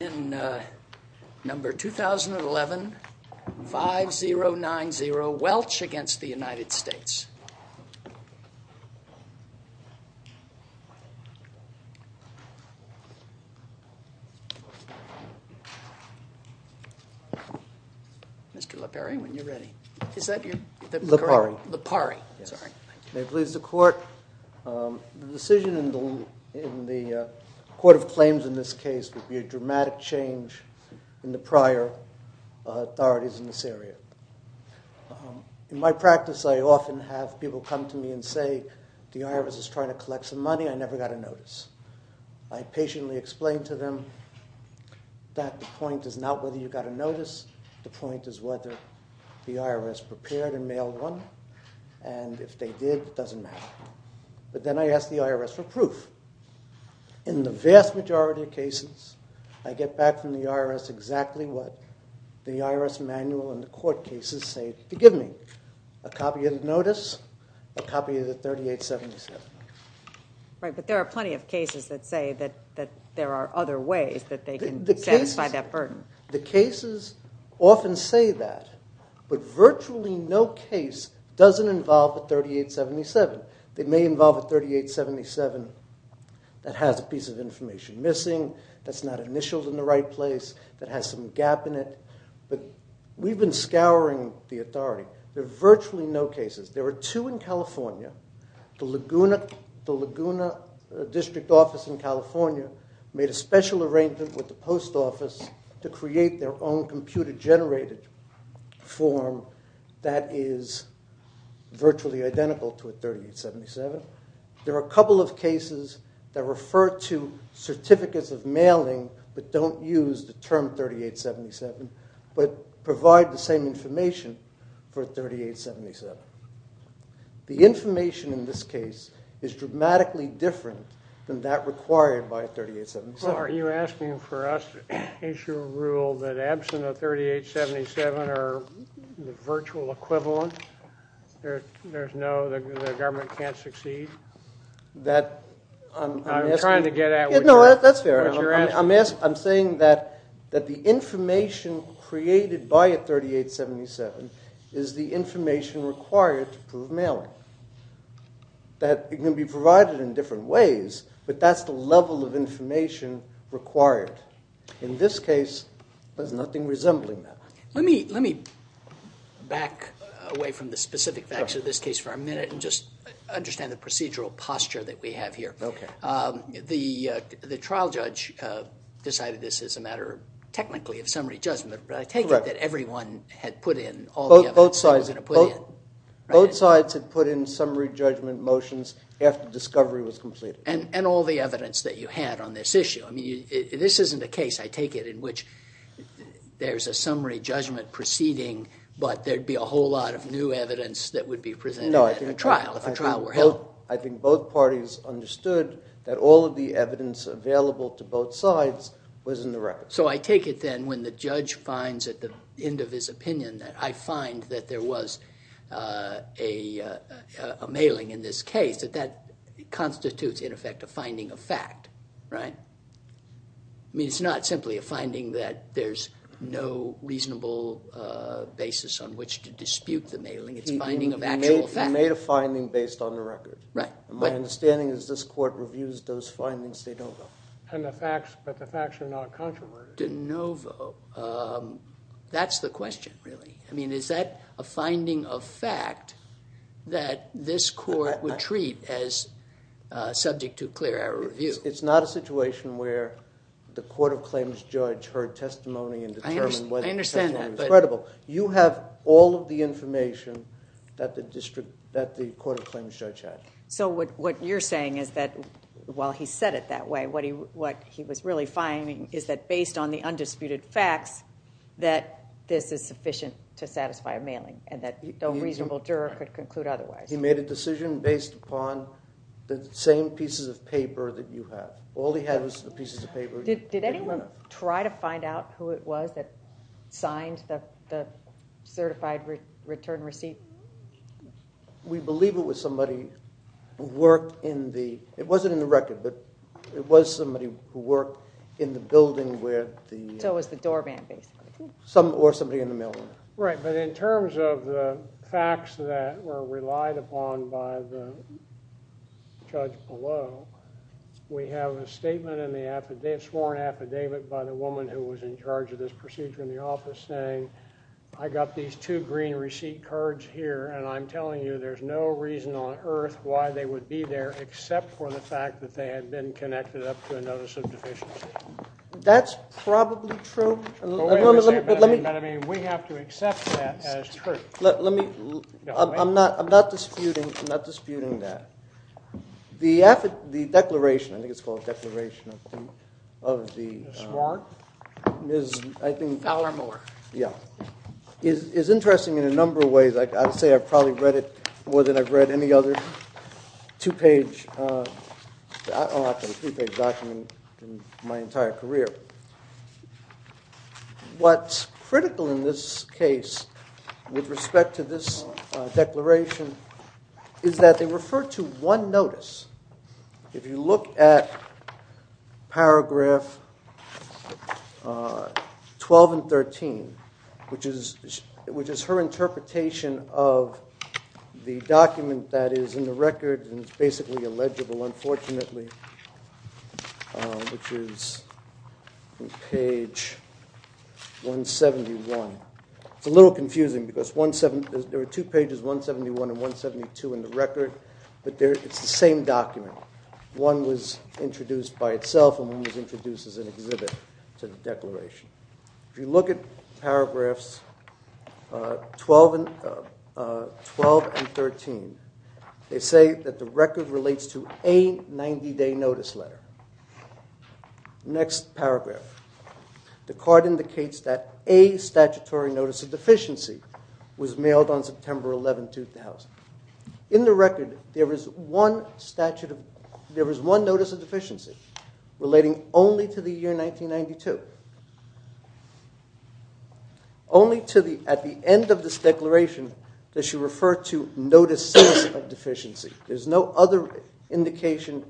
in Number 2011-5090, WELCH v. United States. May it please the Court, the decision in the Court of Claims in this case would be dramatic change in the prior authorities in this area. In my practice I often have people come to me and say the IRS is trying to collect some money, I never got a notice. I patiently explained to them that the point is not whether you got a notice, the point is whether the IRS prepared and mailed one, and if they did it doesn't matter. But then I asked the IRS for proof. In the vast majority of cases, I get back from the IRS exactly what the IRS manual and the court cases say, forgive me, a copy of the notice, a copy of the 3877. Right, but there are plenty of cases that say that there are other ways that they can satisfy that burden. The cases often say that, but virtually no case doesn't involve the 3877. They may involve a 3877 that has a piece of information missing, that's not initialed in the right place, that has some gap in it, but we've been scouring the authority. There are virtually no cases. There are two in California. The Laguna District Office in California made a special arrangement with the Post Office to There are a couple of cases that refer to certificates of mailing, but don't use the term 3877, but provide the same information for a 3877. The information in this case is dramatically different than that required by a 3877. Well, are you asking for us to issue a rule that absent a 3877 are virtual equivalent? There's no, the government can't succeed. I'm trying to get at what you're asking. No, that's fair. I'm saying that the information created by a 3877 is the information required to prove mailing. That can be provided in different ways, but that's the level of information required. In this case, there's nothing resembling that. Let me back away from the specific facts of this case for a minute and just understand the procedural posture that we have here. The trial judge decided this is a matter technically of summary judgment, but I take it that everyone had put in all the evidence they were going to put in. Both sides had put in summary judgment motions after discovery was completed. And all the evidence that you had on this issue. I mean, this isn't a case, I take it, in which there's a summary judgment proceeding, but there'd be a whole lot of new evidence that would be presented at a trial if a trial were held. No, I think both parties understood that all of the evidence available to both sides was in the record. So I take it then when the judge finds at the end of his opinion that I find that there was a mailing in this case, that that constitutes, in effect, a finding of fact, right? I mean, it's not simply a finding that there's no reasonable basis on which to dispute the mailing. It's finding of actual fact. You made a finding based on the record. Right. My understanding is this court reviews those findings de novo. And the facts, but the facts are not controversial. De novo. That's the question, really. I mean, is that a finding of fact that this court would treat as subject to clear-error review? It's not a situation where the Court of Claims judge heard testimony and determined whether the testimony was credible. I understand that, but... You have all of the information that the Court of Claims judge had. So what you're saying is that while he said it that way, what he was really finding is that based on the undisputed facts, that this is sufficient to satisfy a mailing and that no reasonable juror could conclude otherwise. He made a decision based upon the same pieces of paper that you have. All he had was the pieces of paper. Did anyone try to find out who it was that signed the certified return receipt? We believe it was somebody who worked in the... it wasn't in the record, but it was somebody who worked in the building where the... So it was the doorman, basically. Or somebody in the mail room. Right, but in terms of the facts that were relied upon by the judge below, we have a statement in the sworn affidavit by the woman who was in charge of this procedure in the office saying, I got these two green receipt cards here, and I'm telling you there's no reason on earth why they would be there except for the fact that they had been connected up to a notice of deficiency. That's probably true, but let me... We have to accept that as true. Let me... I'm not disputing that. The affid... the declaration, I think it's called the Declaration of the Sworn, is I think... Fowler-Moore. Yeah. It's interesting in a number of ways. I'd say I've probably read it more than I've read a two-page... I don't know if it was a two-page document in my entire career. What's critical in this case with respect to this declaration is that they refer to one notice. If you look at paragraph 12 and 13, which is her interpretation of the document that is in the record, and it's basically illegible unfortunately, which is on page 171. It's a little confusing because there are two pages, 171 and 172, in the record, but it's the same document. One was introduced by itself, and one was introduced as an exhibit to the declaration. If you look at paragraphs 12 and 13, they say that the record relates to a 90-day notice letter. Next paragraph. The card indicates that a statutory notice of deficiency was mailed on September 11, 2000. In the record, there was one notice of deficiency relating only to the... at the end of this declaration, that she referred to notices of deficiency. There's no other indication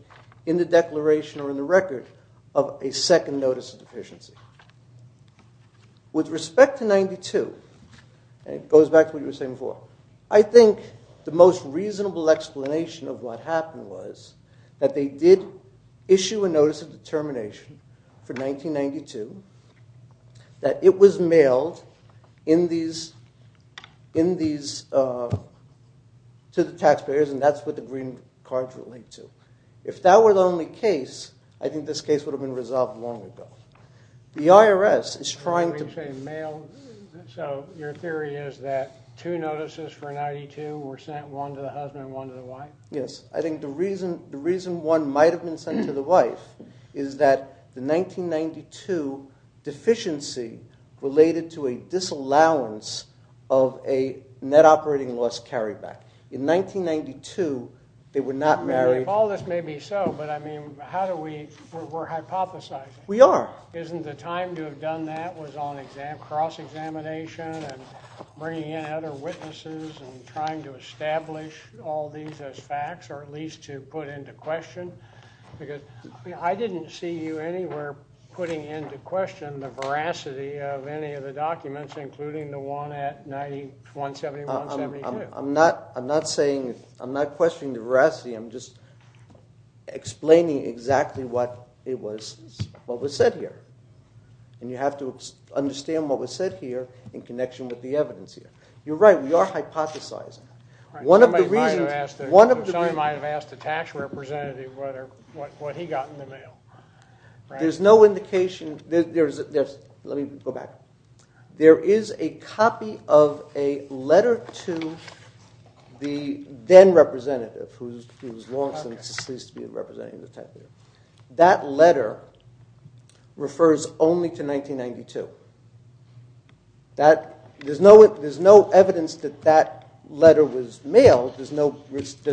in the declaration or in the record of a second notice of deficiency. With respect to 92, and it goes back to what you were saying before, I think the most reasonable explanation of what happened was that they did issue a notice of determination for 1992, that it was mailed to the taxpayers, and that's what the green cards relate to. If that were the only case, I think this case would have been resolved long ago. The IRS is trying to... Are you saying mailed? Your theory is that two notices for 92 were sent, one to the husband, one to the wife? Yes. I think the reason one might have been sent to the wife is that the 1992 deficiency related to a disallowance of a net operating loss carryback. In 1992, they were not married. All this may be so, but I mean, how do we... we're hypothesizing. We are. Isn't the time to have done that was on cross-examination and bringing in other witnesses and trying to establish all these as facts, or at least to put into question? I didn't see you anywhere putting into question the veracity of any of the documents, including the one at 1971-72. I'm not saying... I'm not questioning the veracity. I'm just explaining exactly what was said here, and you have to understand what was said here in connection with the evidence here. You're right. We are hypothesizing. Somebody might have asked the tax representative what he got in the mail. There's no indication... let me go back. There is a copy of a letter to the then-representative, who's long since ceased to be a representative. That letter refers only to 1992. There's no evidence that that letter was mailed. There's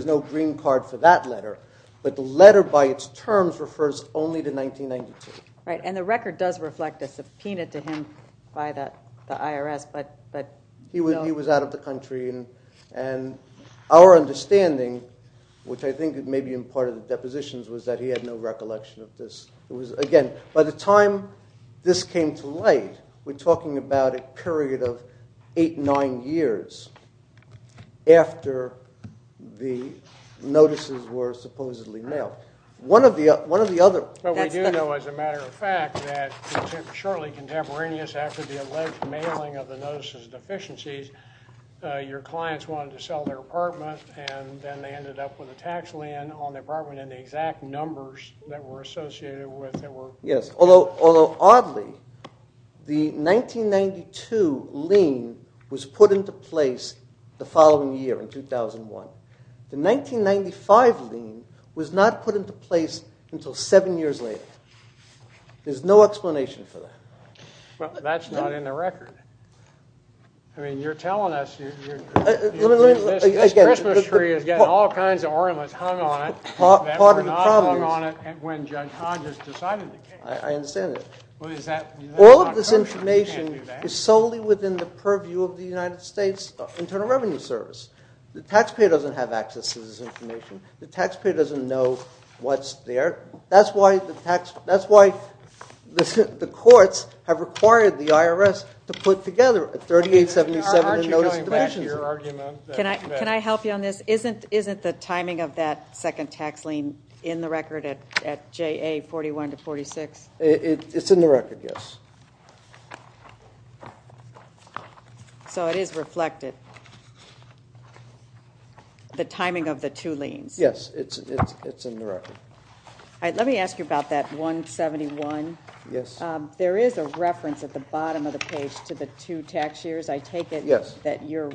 no green card for that letter, but the letter by its terms refers only to 1992. Right, and the record does reflect a subpoena to him by the IRS, but... He was out of the country, and our understanding, which I think may be part of the depositions, was that he had no recollection of this. It was, again, by the time this came to light, we're talking about a period of eight, nine years after the notices were supposedly mailed. One of the other... But we do know, as a matter of fact, that shortly contemporaneous after the alleged mailing of the notices of deficiencies, your clients wanted to sell their apartment, and then they ended up with a tax lien on the apartment, and the exact numbers that were associated with it were... Yes, although, oddly, the 1992 lien was put into place the following year, in 2001. The 1995 lien was not put into place until seven years later. There's no explanation for that. Well, that's not in the record. I mean, you're telling us... This Christmas tree is getting all kinds of ornaments hung on it that were not hung on it when Judge Hodges decided the case. I understand that. All of this information is solely within the purview of the United States Internal Revenue Service. The taxpayer doesn't have access to this information. The taxpayer doesn't know what's there. That's why the courts have required the IRS to put together a 3877 notice of deficiencies. Aren't you going back to your argument? Can I help you on this? Isn't the timing of that second tax lien in the record at JA 41 to 46? It's in the record, yes. So it is reflected? The timing of the two liens? Yes, it's in the record. Let me ask you about that 171. Yes. There is a reference at the bottom of the page to the two tax years. I take it... Yes....... that you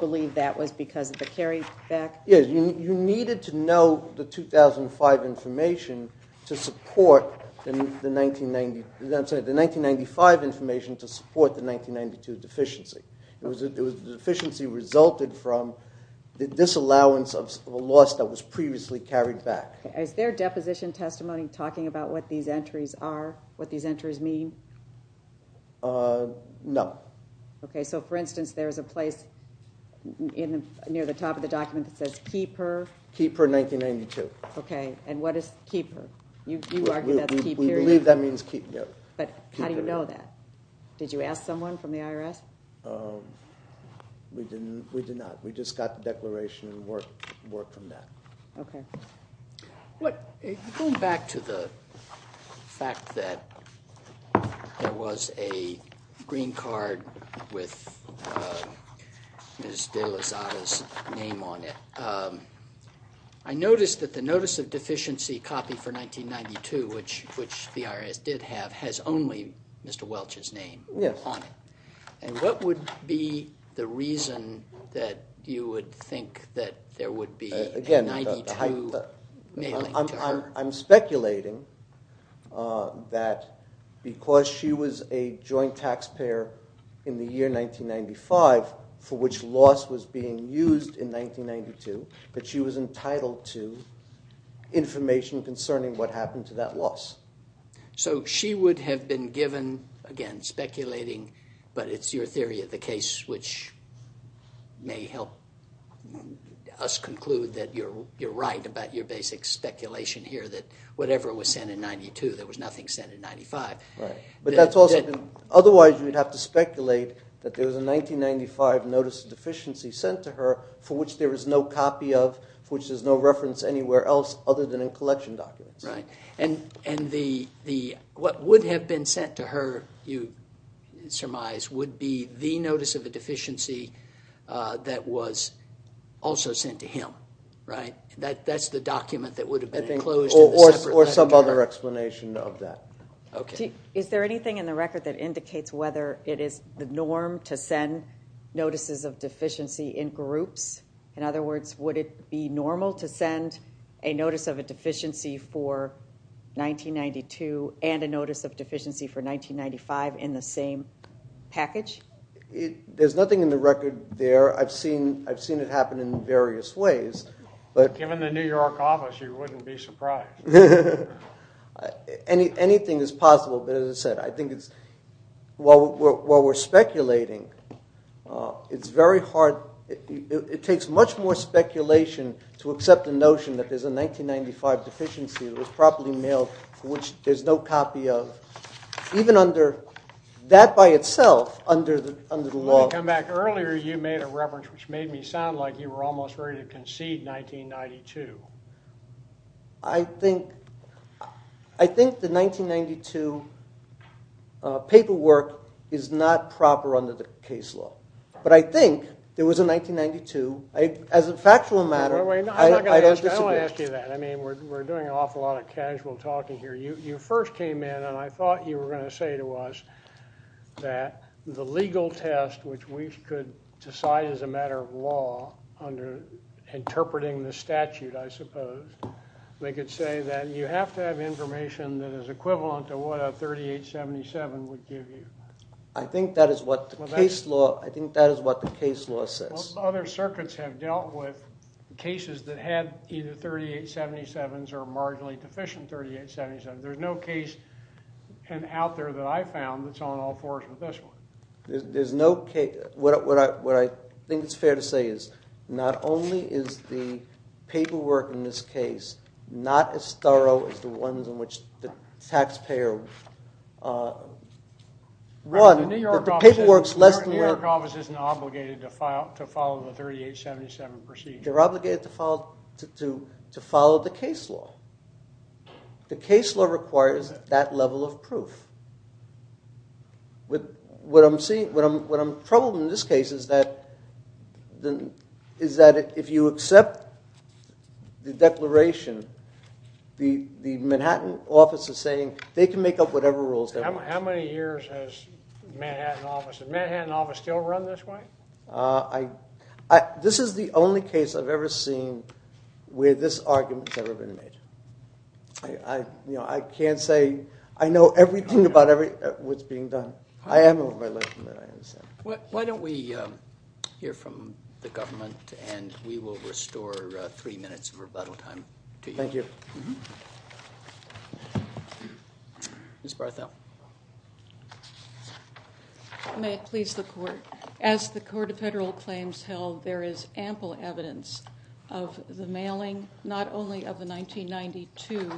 believe that was because of the carryback? Yes. You needed to know the 2005 information to support the 1990... I'm sorry, the 1995 information to support the 1992 deficiency. The deficiency resulted from the disallowance of a loss that was previously carried back. Is there deposition testimony talking about what these entries mean? No. So, for instance, there's a place near the top of the document that says, Keeper... Keeper 1992. Okay. And what is Keeper? You argue that's keep period? We believe that means keep period. But how do you know that? Did you ask someone from the IRS? We did not. We just got the declaration and worked from that. Going back to the fact that there was a green card with Ms. De La Zada's name on it, I noticed that the Notice of Deficiency copy for 1992, which the IRS did have, has only Mr. Welch's name on it. And what would be the reason that you would think that there would be... I'm speculating that because she was a joint taxpayer in the year 1995, for which loss was being used in 1992, that she was entitled to information concerning what happened to that loss. So she would have been given, again speculating, but it's your theory of the case, which may help us conclude that you're right about your basic speculation here that whatever was sent in 1992, there was nothing sent in 1995. Right. But that's also... Otherwise, you'd have to speculate that there was a 1995 Notice of Deficiency sent to her for which there is no copy of, for which there's no reference anywhere else other than in collection documents. Right. And what would have been sent to her, you surmise, would be the Notice of a Deficiency that was also sent to him, right? That's the document that would have been enclosed. Or some other explanation of that. Okay. Is there anything in the record that indicates whether it is the norm to send Notices of Deficiency in groups? In other words, would it be normal to send a Notice of a Deficiency for 1992 and a Notice of Deficiency for 1995 in the same package? There's nothing in the record there. I've seen it happen in various ways, but... Given the New York office, you wouldn't be surprised. Anything is possible, but as I said, I think it's... while we're speculating, it's very hard... it takes much more speculation to accept the notion that there's a 1995 Deficiency that was properly mailed for which there's no copy of. Even under... that by itself, under the law... Let me come back. Earlier, you made a reference which made me sound like you were almost ready to concede 1992. I think the 1992 paperwork is not proper under the case law. But I think there was a 1992. As a factual matter, I don't disagree. I don't want to ask you that. I mean, we're doing an awful lot of casual talking here. You first came in and I thought you were going to say to us that the legal test which we could decide as a matter of law under interpreting the statute, I suppose, they could say that you have to have information that is equivalent to what a 3877 would give you. I think that is what the case law... I think that is what the case law says. Other circuits have dealt with cases that had either 3877s or marginally deficient 3877s. There's no case out there that I found that's on all fours with this one. There's no case... what I think it's fair to say is not only is the paperwork in this case not as thorough as the ones in which the taxpayer... The New York office isn't obligated to follow the 3877 procedure. They're obligated to follow the case law. The case law requires that level of proof. What I'm troubled in this case is that if you accept the declaration, the Manhattan office is saying they can make up whatever rules they want. How many years has the Manhattan office... has the Manhattan office still run this way? This is the only case I've ever seen where this argument has ever been made. I can't say... I know everything about what's being done. I am over my life. Why don't we hear from the government and we will restore three minutes of rebuttal time to you. Thank you. Ms. Barthel. May it please the court. As the Court of Federal Claims held, there is ample evidence of the mailing, not only of the 1992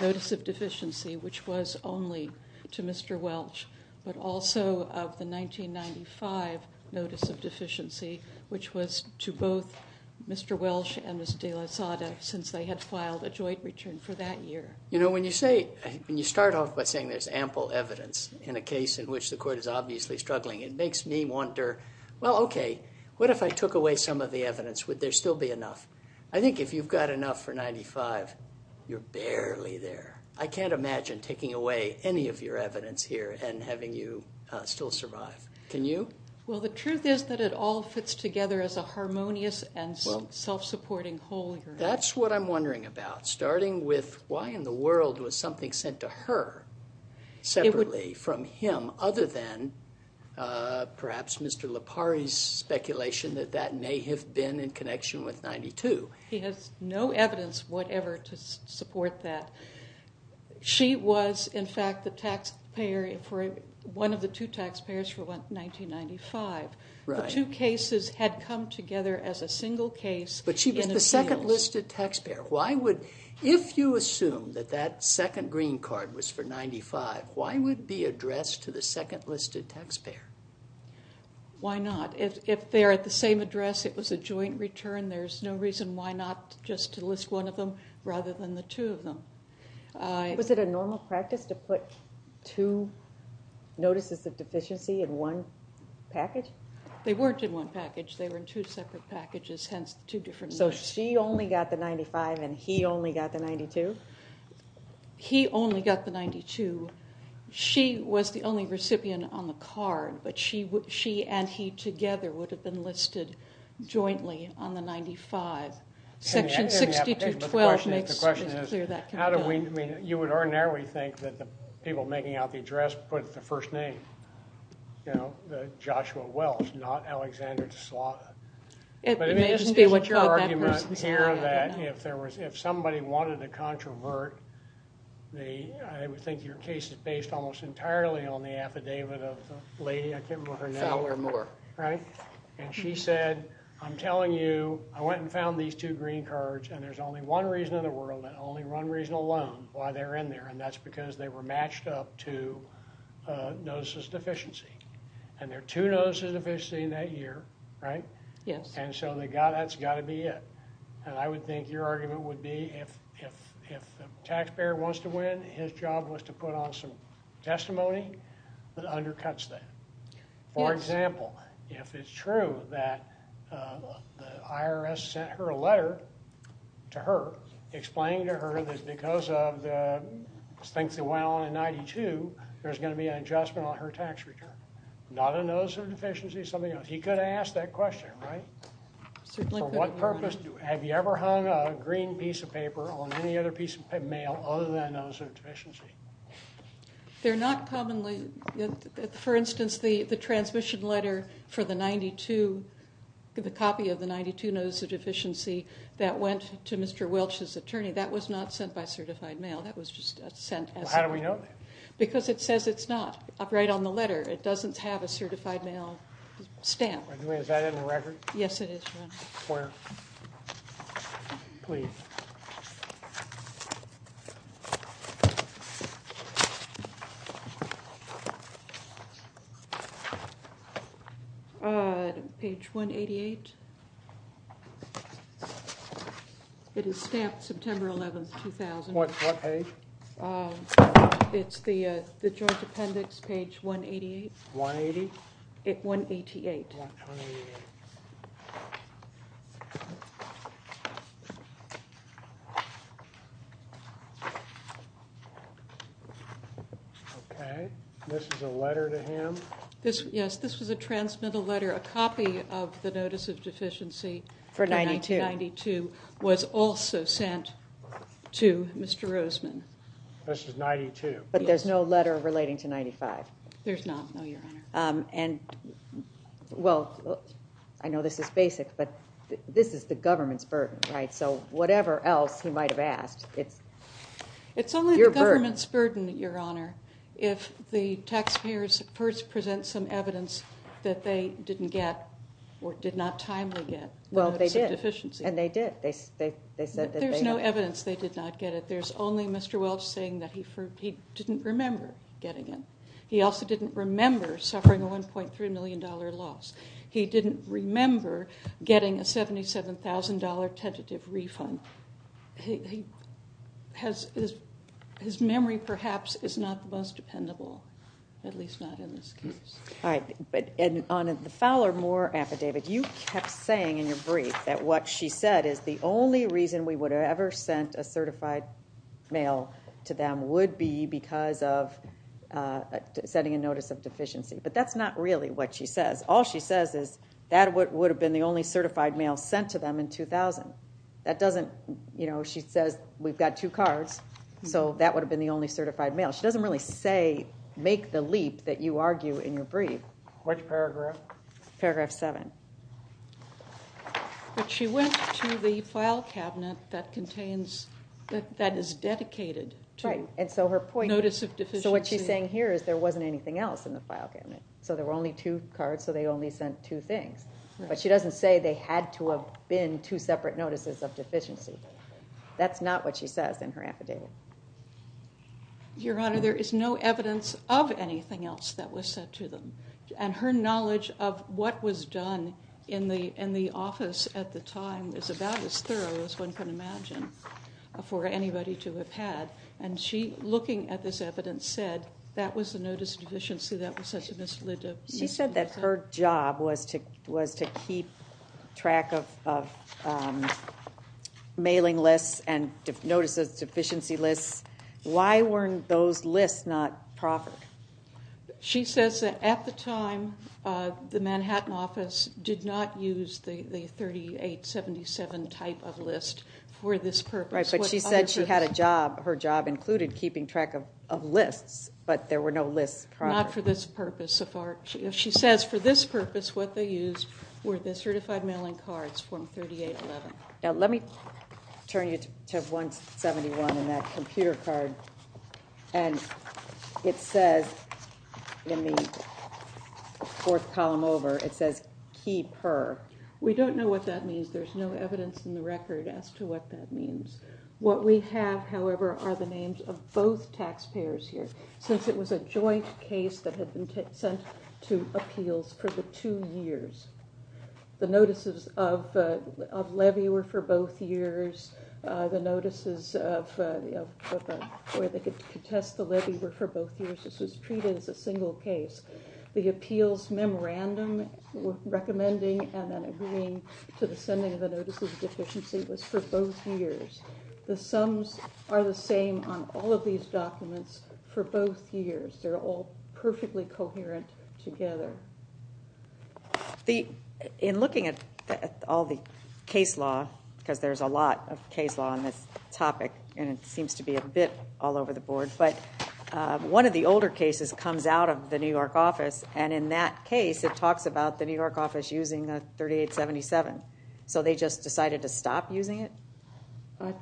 Notice of Deficiency, which was only to Mr. Welch, but also of the 1995 Notice of Deficiency, which was to both Mr. Welch and Ms. De La Sada since they had filed a joint return for that year. You know, when you say... when you start off by saying there's ample evidence in a case in which the court is obviously struggling, it makes me wonder, well, okay, what if I took away some of the evidence? Would there still be enough? I think if you've got enough for 1995, you're barely there. I can't imagine taking away any of your evidence here and having you still survive. Can you? Well, the truth is that it all fits together as a harmonious and self-supporting whole. That's what I'm wondering about. Starting with why in the world was something sent to her separately from him, other than perhaps Mr. Lipari's speculation that that may have been in connection with 92. He has no evidence whatever to support that. She was, in fact, the taxpayer for one of the two taxpayers for 1995. The two cases had come together as a single case. But she was the second listed taxpayer. Why would... if you assume that that second green card was for 95, why would it be addressed to the second listed taxpayer? Why not? If they're at the same address, it was a joint return, there's no reason why not just to list one of them rather than the two of them. Was it a normal practice to put two notices of deficiency in one package? They weren't in one package. They were in two separate packages, hence two different... So she only got the 95 and he only got the 92? He only got the 92. She was the only recipient on the card, but she and he together would have been listed jointly on the 95. Section 62.12 makes it clear that can be done. You would ordinarily think that the people making out the address put the first name, you know, Joshua Wells, not Alexander DeSlata. It may just be what you're... There's an argument here that if somebody wanted to controvert, I think your case is based almost entirely on the affidavit of the lady, I can't remember her name. Fowler Moore. Right? And she said, I'm telling you, I went and found these two green cards and there's only one reason in the world, and only one reason alone why they're in there, and that's because they were matched up to notices of deficiency. And there are two notices of deficiency in that year, right? Yes. And so that's got to be it. And I would think your argument would be if the taxpayer wants to win, his job was to put on some testimony that undercuts that. For example, if it's true that the IRS sent her a letter to her explaining to her that because of the things that went on in 92, there's going to be an adjustment on her tax return. Not a notice of deficiency, something else. He could have asked that question, right? For what purpose have you ever hung a green piece of paper on any other piece of mail other than a notice of deficiency? They're not commonly... For instance, the transmission letter for the 92, the copy of the 92 notice of deficiency that went to Mr. Welch's attorney, that was not sent by certified mail. That was just sent as... How do we know that? Because it says it's not right on the letter. It doesn't have a certified mail stamp. Is that in the record? Yes, it is. Where? Please. Page 188. It is stamped September 11, 2000. What page? It's the joint appendix, page 188. 180? 188. Okay, this is a letter to him? Yes, this was a transmittal letter. A copy of the notice of deficiency for 1992 was also sent to Mr. Roseman. This is 92? But there's no letter relating to 95? There's not, no, Your Honor. And, well, I know this is basic, but this is the government's burden, right? So whatever else he might have asked, it's your burden. It's only the government's burden, Your Honor, if the taxpayers present some evidence that they didn't get or did not timely get. Well, they did. And they did. But there's no evidence they did not get it. There's only Mr. Welch saying that he didn't remember getting it. He also didn't remember suffering a $1.3 million loss. He didn't remember getting a $77,000 tentative refund. His memory, perhaps, is not the most dependable, at least not in this case. All right. But on the Fowler-Moore affidavit, you kept saying in your brief that what she said is the only reason we would have ever sent a certified mail to them would be because of setting a notice of deficiency. But that's not really what she says. All she says is that would have been the only certified mail sent to them in 2000. She says we've got two cards, so that would have been the only certified mail. She doesn't really say make the leap that you argue in your brief. Which paragraph? Paragraph 7. But she went to the file cabinet that is dedicated to notice of deficiency. So what she's saying here is there wasn't anything else in the file cabinet. So there were only two cards, so they only sent two things. But she doesn't say they had to have been two separate notices of deficiency. That's not what she says in her affidavit. Your Honor, there is no evidence of anything else that was sent to them. And her knowledge of what was done in the office at the time is about as thorough as one can imagine for anybody to have had. And she, looking at this evidence, said that was the notice of deficiency. That was such a misledive. She said that her job was to keep track of mailing lists and notices of deficiency lists. Why weren't those lists not proffered? She says that at the time, the Manhattan office did not use the 3877 type of list for this purpose. Right, but she said she had a job. Her job included keeping track of lists, but there were no lists proffered. Not for this purpose. She says for this purpose, what they used were the certified mailing cards from 3811. Now let me turn you to 171 in that computer card. And it says in the fourth column over, it says keep her. We don't know what that means. There's no evidence in the record as to what that means. What we have, however, are the names of both taxpayers here, since it was a joint case that had been sent to appeals for the two years. The notices of levy were for both years. The notices of where they could contest the levy were for both years. This was treated as a single case. The appeals memorandum recommending and then agreeing to the sending of the notices of deficiency was for both years. The sums are the same on all of these documents for both years. They're all perfectly coherent together. In looking at all the case law, because there's a lot of case law on this topic, and it seems to be a bit all over the board, but one of the older cases comes out of the New York office, and in that case, it talks about the New York office using the 3877. So they just decided to stop using it?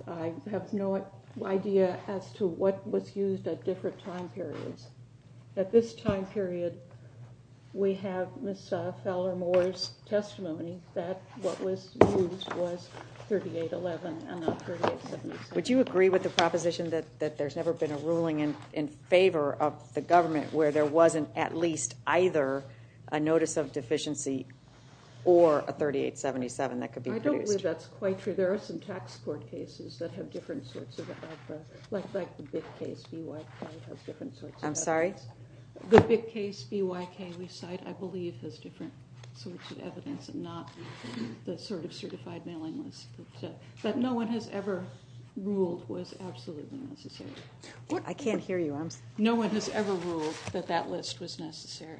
I have no idea as to what was used at different time periods. At this time period, we have Ms. Fowler-Moore's testimony that what was used was 3811, and not 3877. Would you agree with the proposition that there's never been a ruling in favor of the government where there wasn't at least either a notice of deficiency or a 3877 that could be produced? I don't believe that's quite true. There are some tax court cases that have different sorts of, like the big case, I'm sorry? The big case BYK we cite, I believe, has different sorts of evidence and not the sort of certified mailing list. But no one has ever ruled was absolutely necessary. I can't hear you. No one has ever ruled that that list was necessary.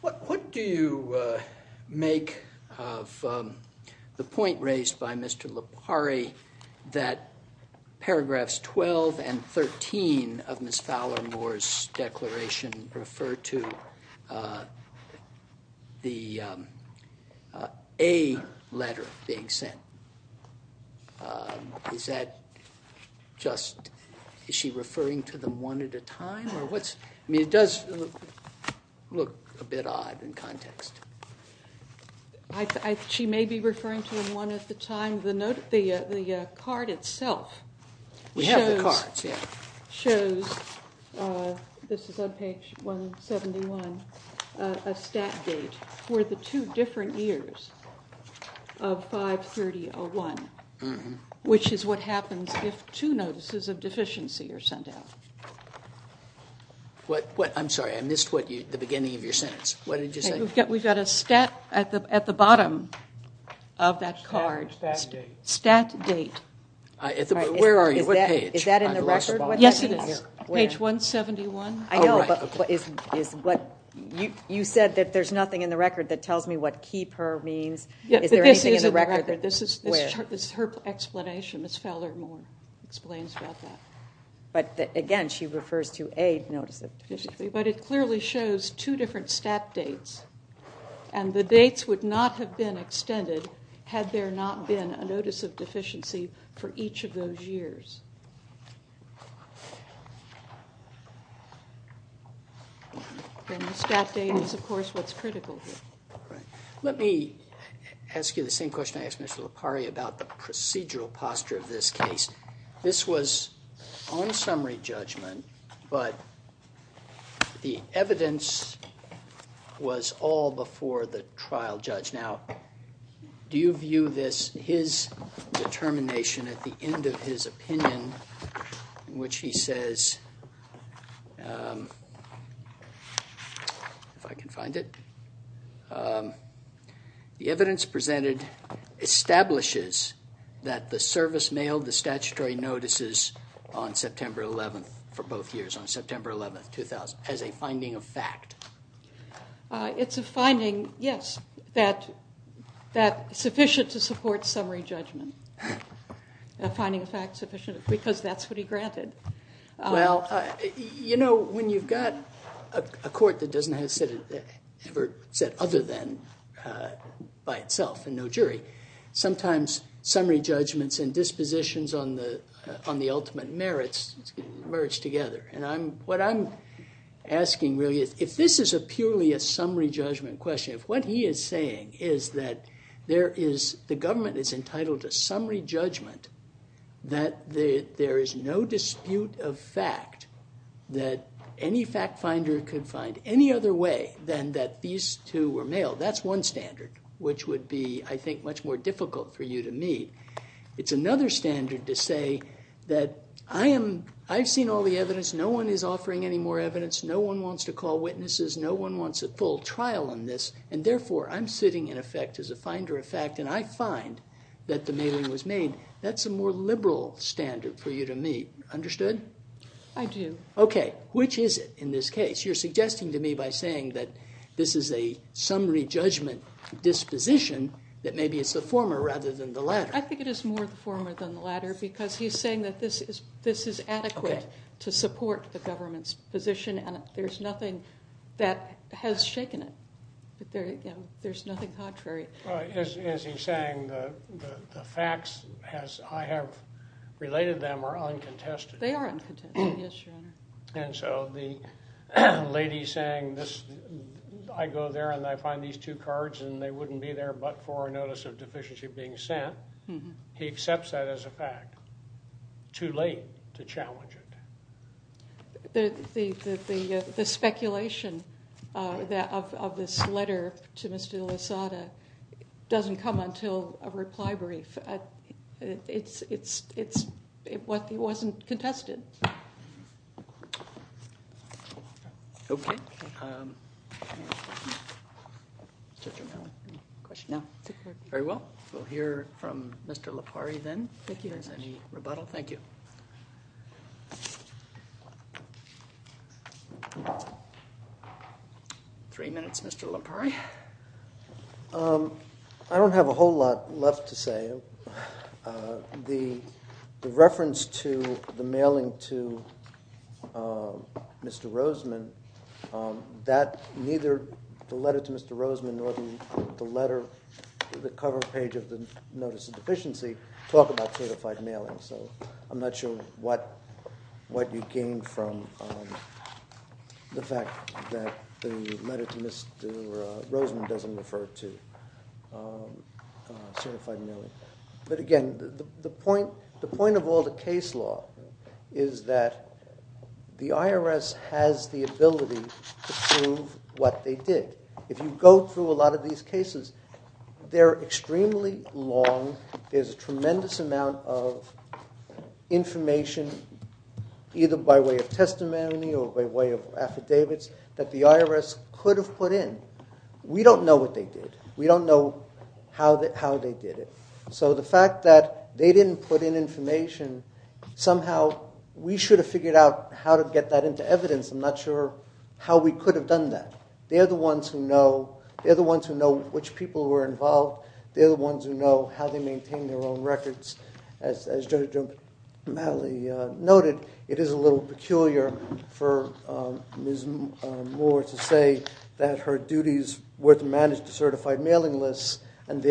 What do you make of the point raised by Mr. Lopari that paragraphs 12 and 13 of Ms. Fowler-Moore's declaration refer to the A letter being sent? Is that just, is she referring to them one at a time? I mean, it does look a bit odd in context. She may be referring to them one at a time. The card itself shows, this is on page 171, a stat date for the two different years of 5-30-01, which is what happens if two notices of deficiency are sent out. I'm sorry, I missed the beginning of your sentence. What did you say? We've got a stat at the bottom of that card. Stat date. Where are you? What page? Is that in the record? Yes, it is. Page 171. I know, but you said that there's nothing in the record that tells me what keep her means. Is there anything in the record? This is her explanation. Ms. Fowler-Moore explains about that. But again, she refers to a notice of deficiency. But it clearly shows two different stat dates, and the dates would not have been extended had there not been a notice of deficiency for each of those years. Then the stat date is, of course, what's critical here. Right. Let me ask you the same question I asked Mr. LaPari about the procedural posture of this case. This was on summary judgment, but the evidence was all before the trial judge. Now, do you view this, his determination at the end of his opinion, in which he says, if I can find it, the evidence presented establishes that the service mailed the statutory notices on September 11th for both years, on September 11th, 2000, as a finding of fact? It's a finding, yes, that is sufficient to support summary judgment, a finding of fact sufficient because that's what he granted. Well, you know, when you've got a court that doesn't have a set other than by itself and no jury, sometimes summary judgments and dispositions on the ultimate merits merge together. And what I'm asking really is, if this is a purely a summary judgment question, if what he is saying is that the government is entitled to summary judgment, that there is no dispute of fact that any fact finder could find any other way than that these two were mailed, that's one standard, which would be, I think, much more difficult for you to meet. It's another standard to say that I've seen all the evidence, no one is offering any more evidence, no one wants to call witnesses, no one wants a full trial on this, and therefore I'm sitting in effect as a finder of fact, and I find that the mailing was made, that's a more liberal standard for you to meet. Understood? I do. Okay, which is it in this case? You're suggesting to me by saying that this is a summary judgment disposition that maybe it's the former rather than the latter. I think it is more the former than the latter because he's saying that this is adequate to support the government's position, and there's nothing that has shaken it. There's nothing contrary. Is he saying the facts as I have related them are uncontested? They are uncontested, yes, Your Honor. And so the lady saying this, I go there and I find these two cards and they wouldn't be there but for a notice of deficiency being sent, he accepts that as a fact. Too late to challenge it. The speculation of this letter to Mr. Losada doesn't come until a reply brief. It's what he wasn't contested. Okay. Very well. We'll hear from Mr. Lopari then if there's any rebuttal. Thank you. Three minutes, Mr. Lopari. I don't have a whole lot left to say. The reference to the mailing to Mr. Roseman, that neither the letter to Mr. Roseman nor the letter, the cover page of the notice of deficiency talk about certified mailing. So I'm not sure what you gained from the fact that the letter to Mr. Roseman doesn't refer to certified mailing. But again, the point of all the case law is that the IRS has the ability to prove what they did. If you go through a lot of these cases, they're extremely long. There's a tremendous amount of information either by way of testimony or by way of affidavits that the IRS could have put in. We don't know what they did. We don't know how they did it. So the fact that they didn't put in information, somehow we should have figured out how to get that into evidence. I'm not sure how we could have done that. They're the ones who know. They're the ones who know which people were involved. They're the ones who know how they maintain their own records. As Judge O'Malley noted, it is a little peculiar for Ms. Moore to say that her duties were to manage the certified mailing lists and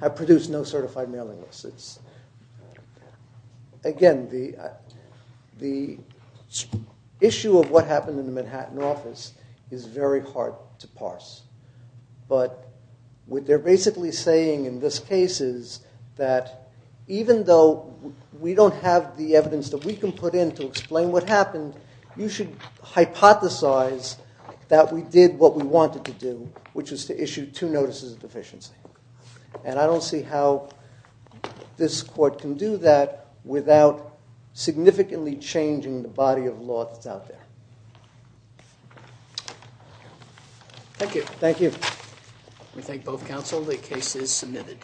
have produced no certified mailing lists. Again, the issue of what happened in the Manhattan office is very hard to parse. But what they're basically saying in this case is that even though we don't have the evidence that we can put in to explain what happened, you should hypothesize that we did what we wanted to do, which is to issue two notices of deficiency. And I don't see how this court can do that without significantly changing the body of law that's out there. Thank you. Thank you. We thank both counsel. The case is submitted.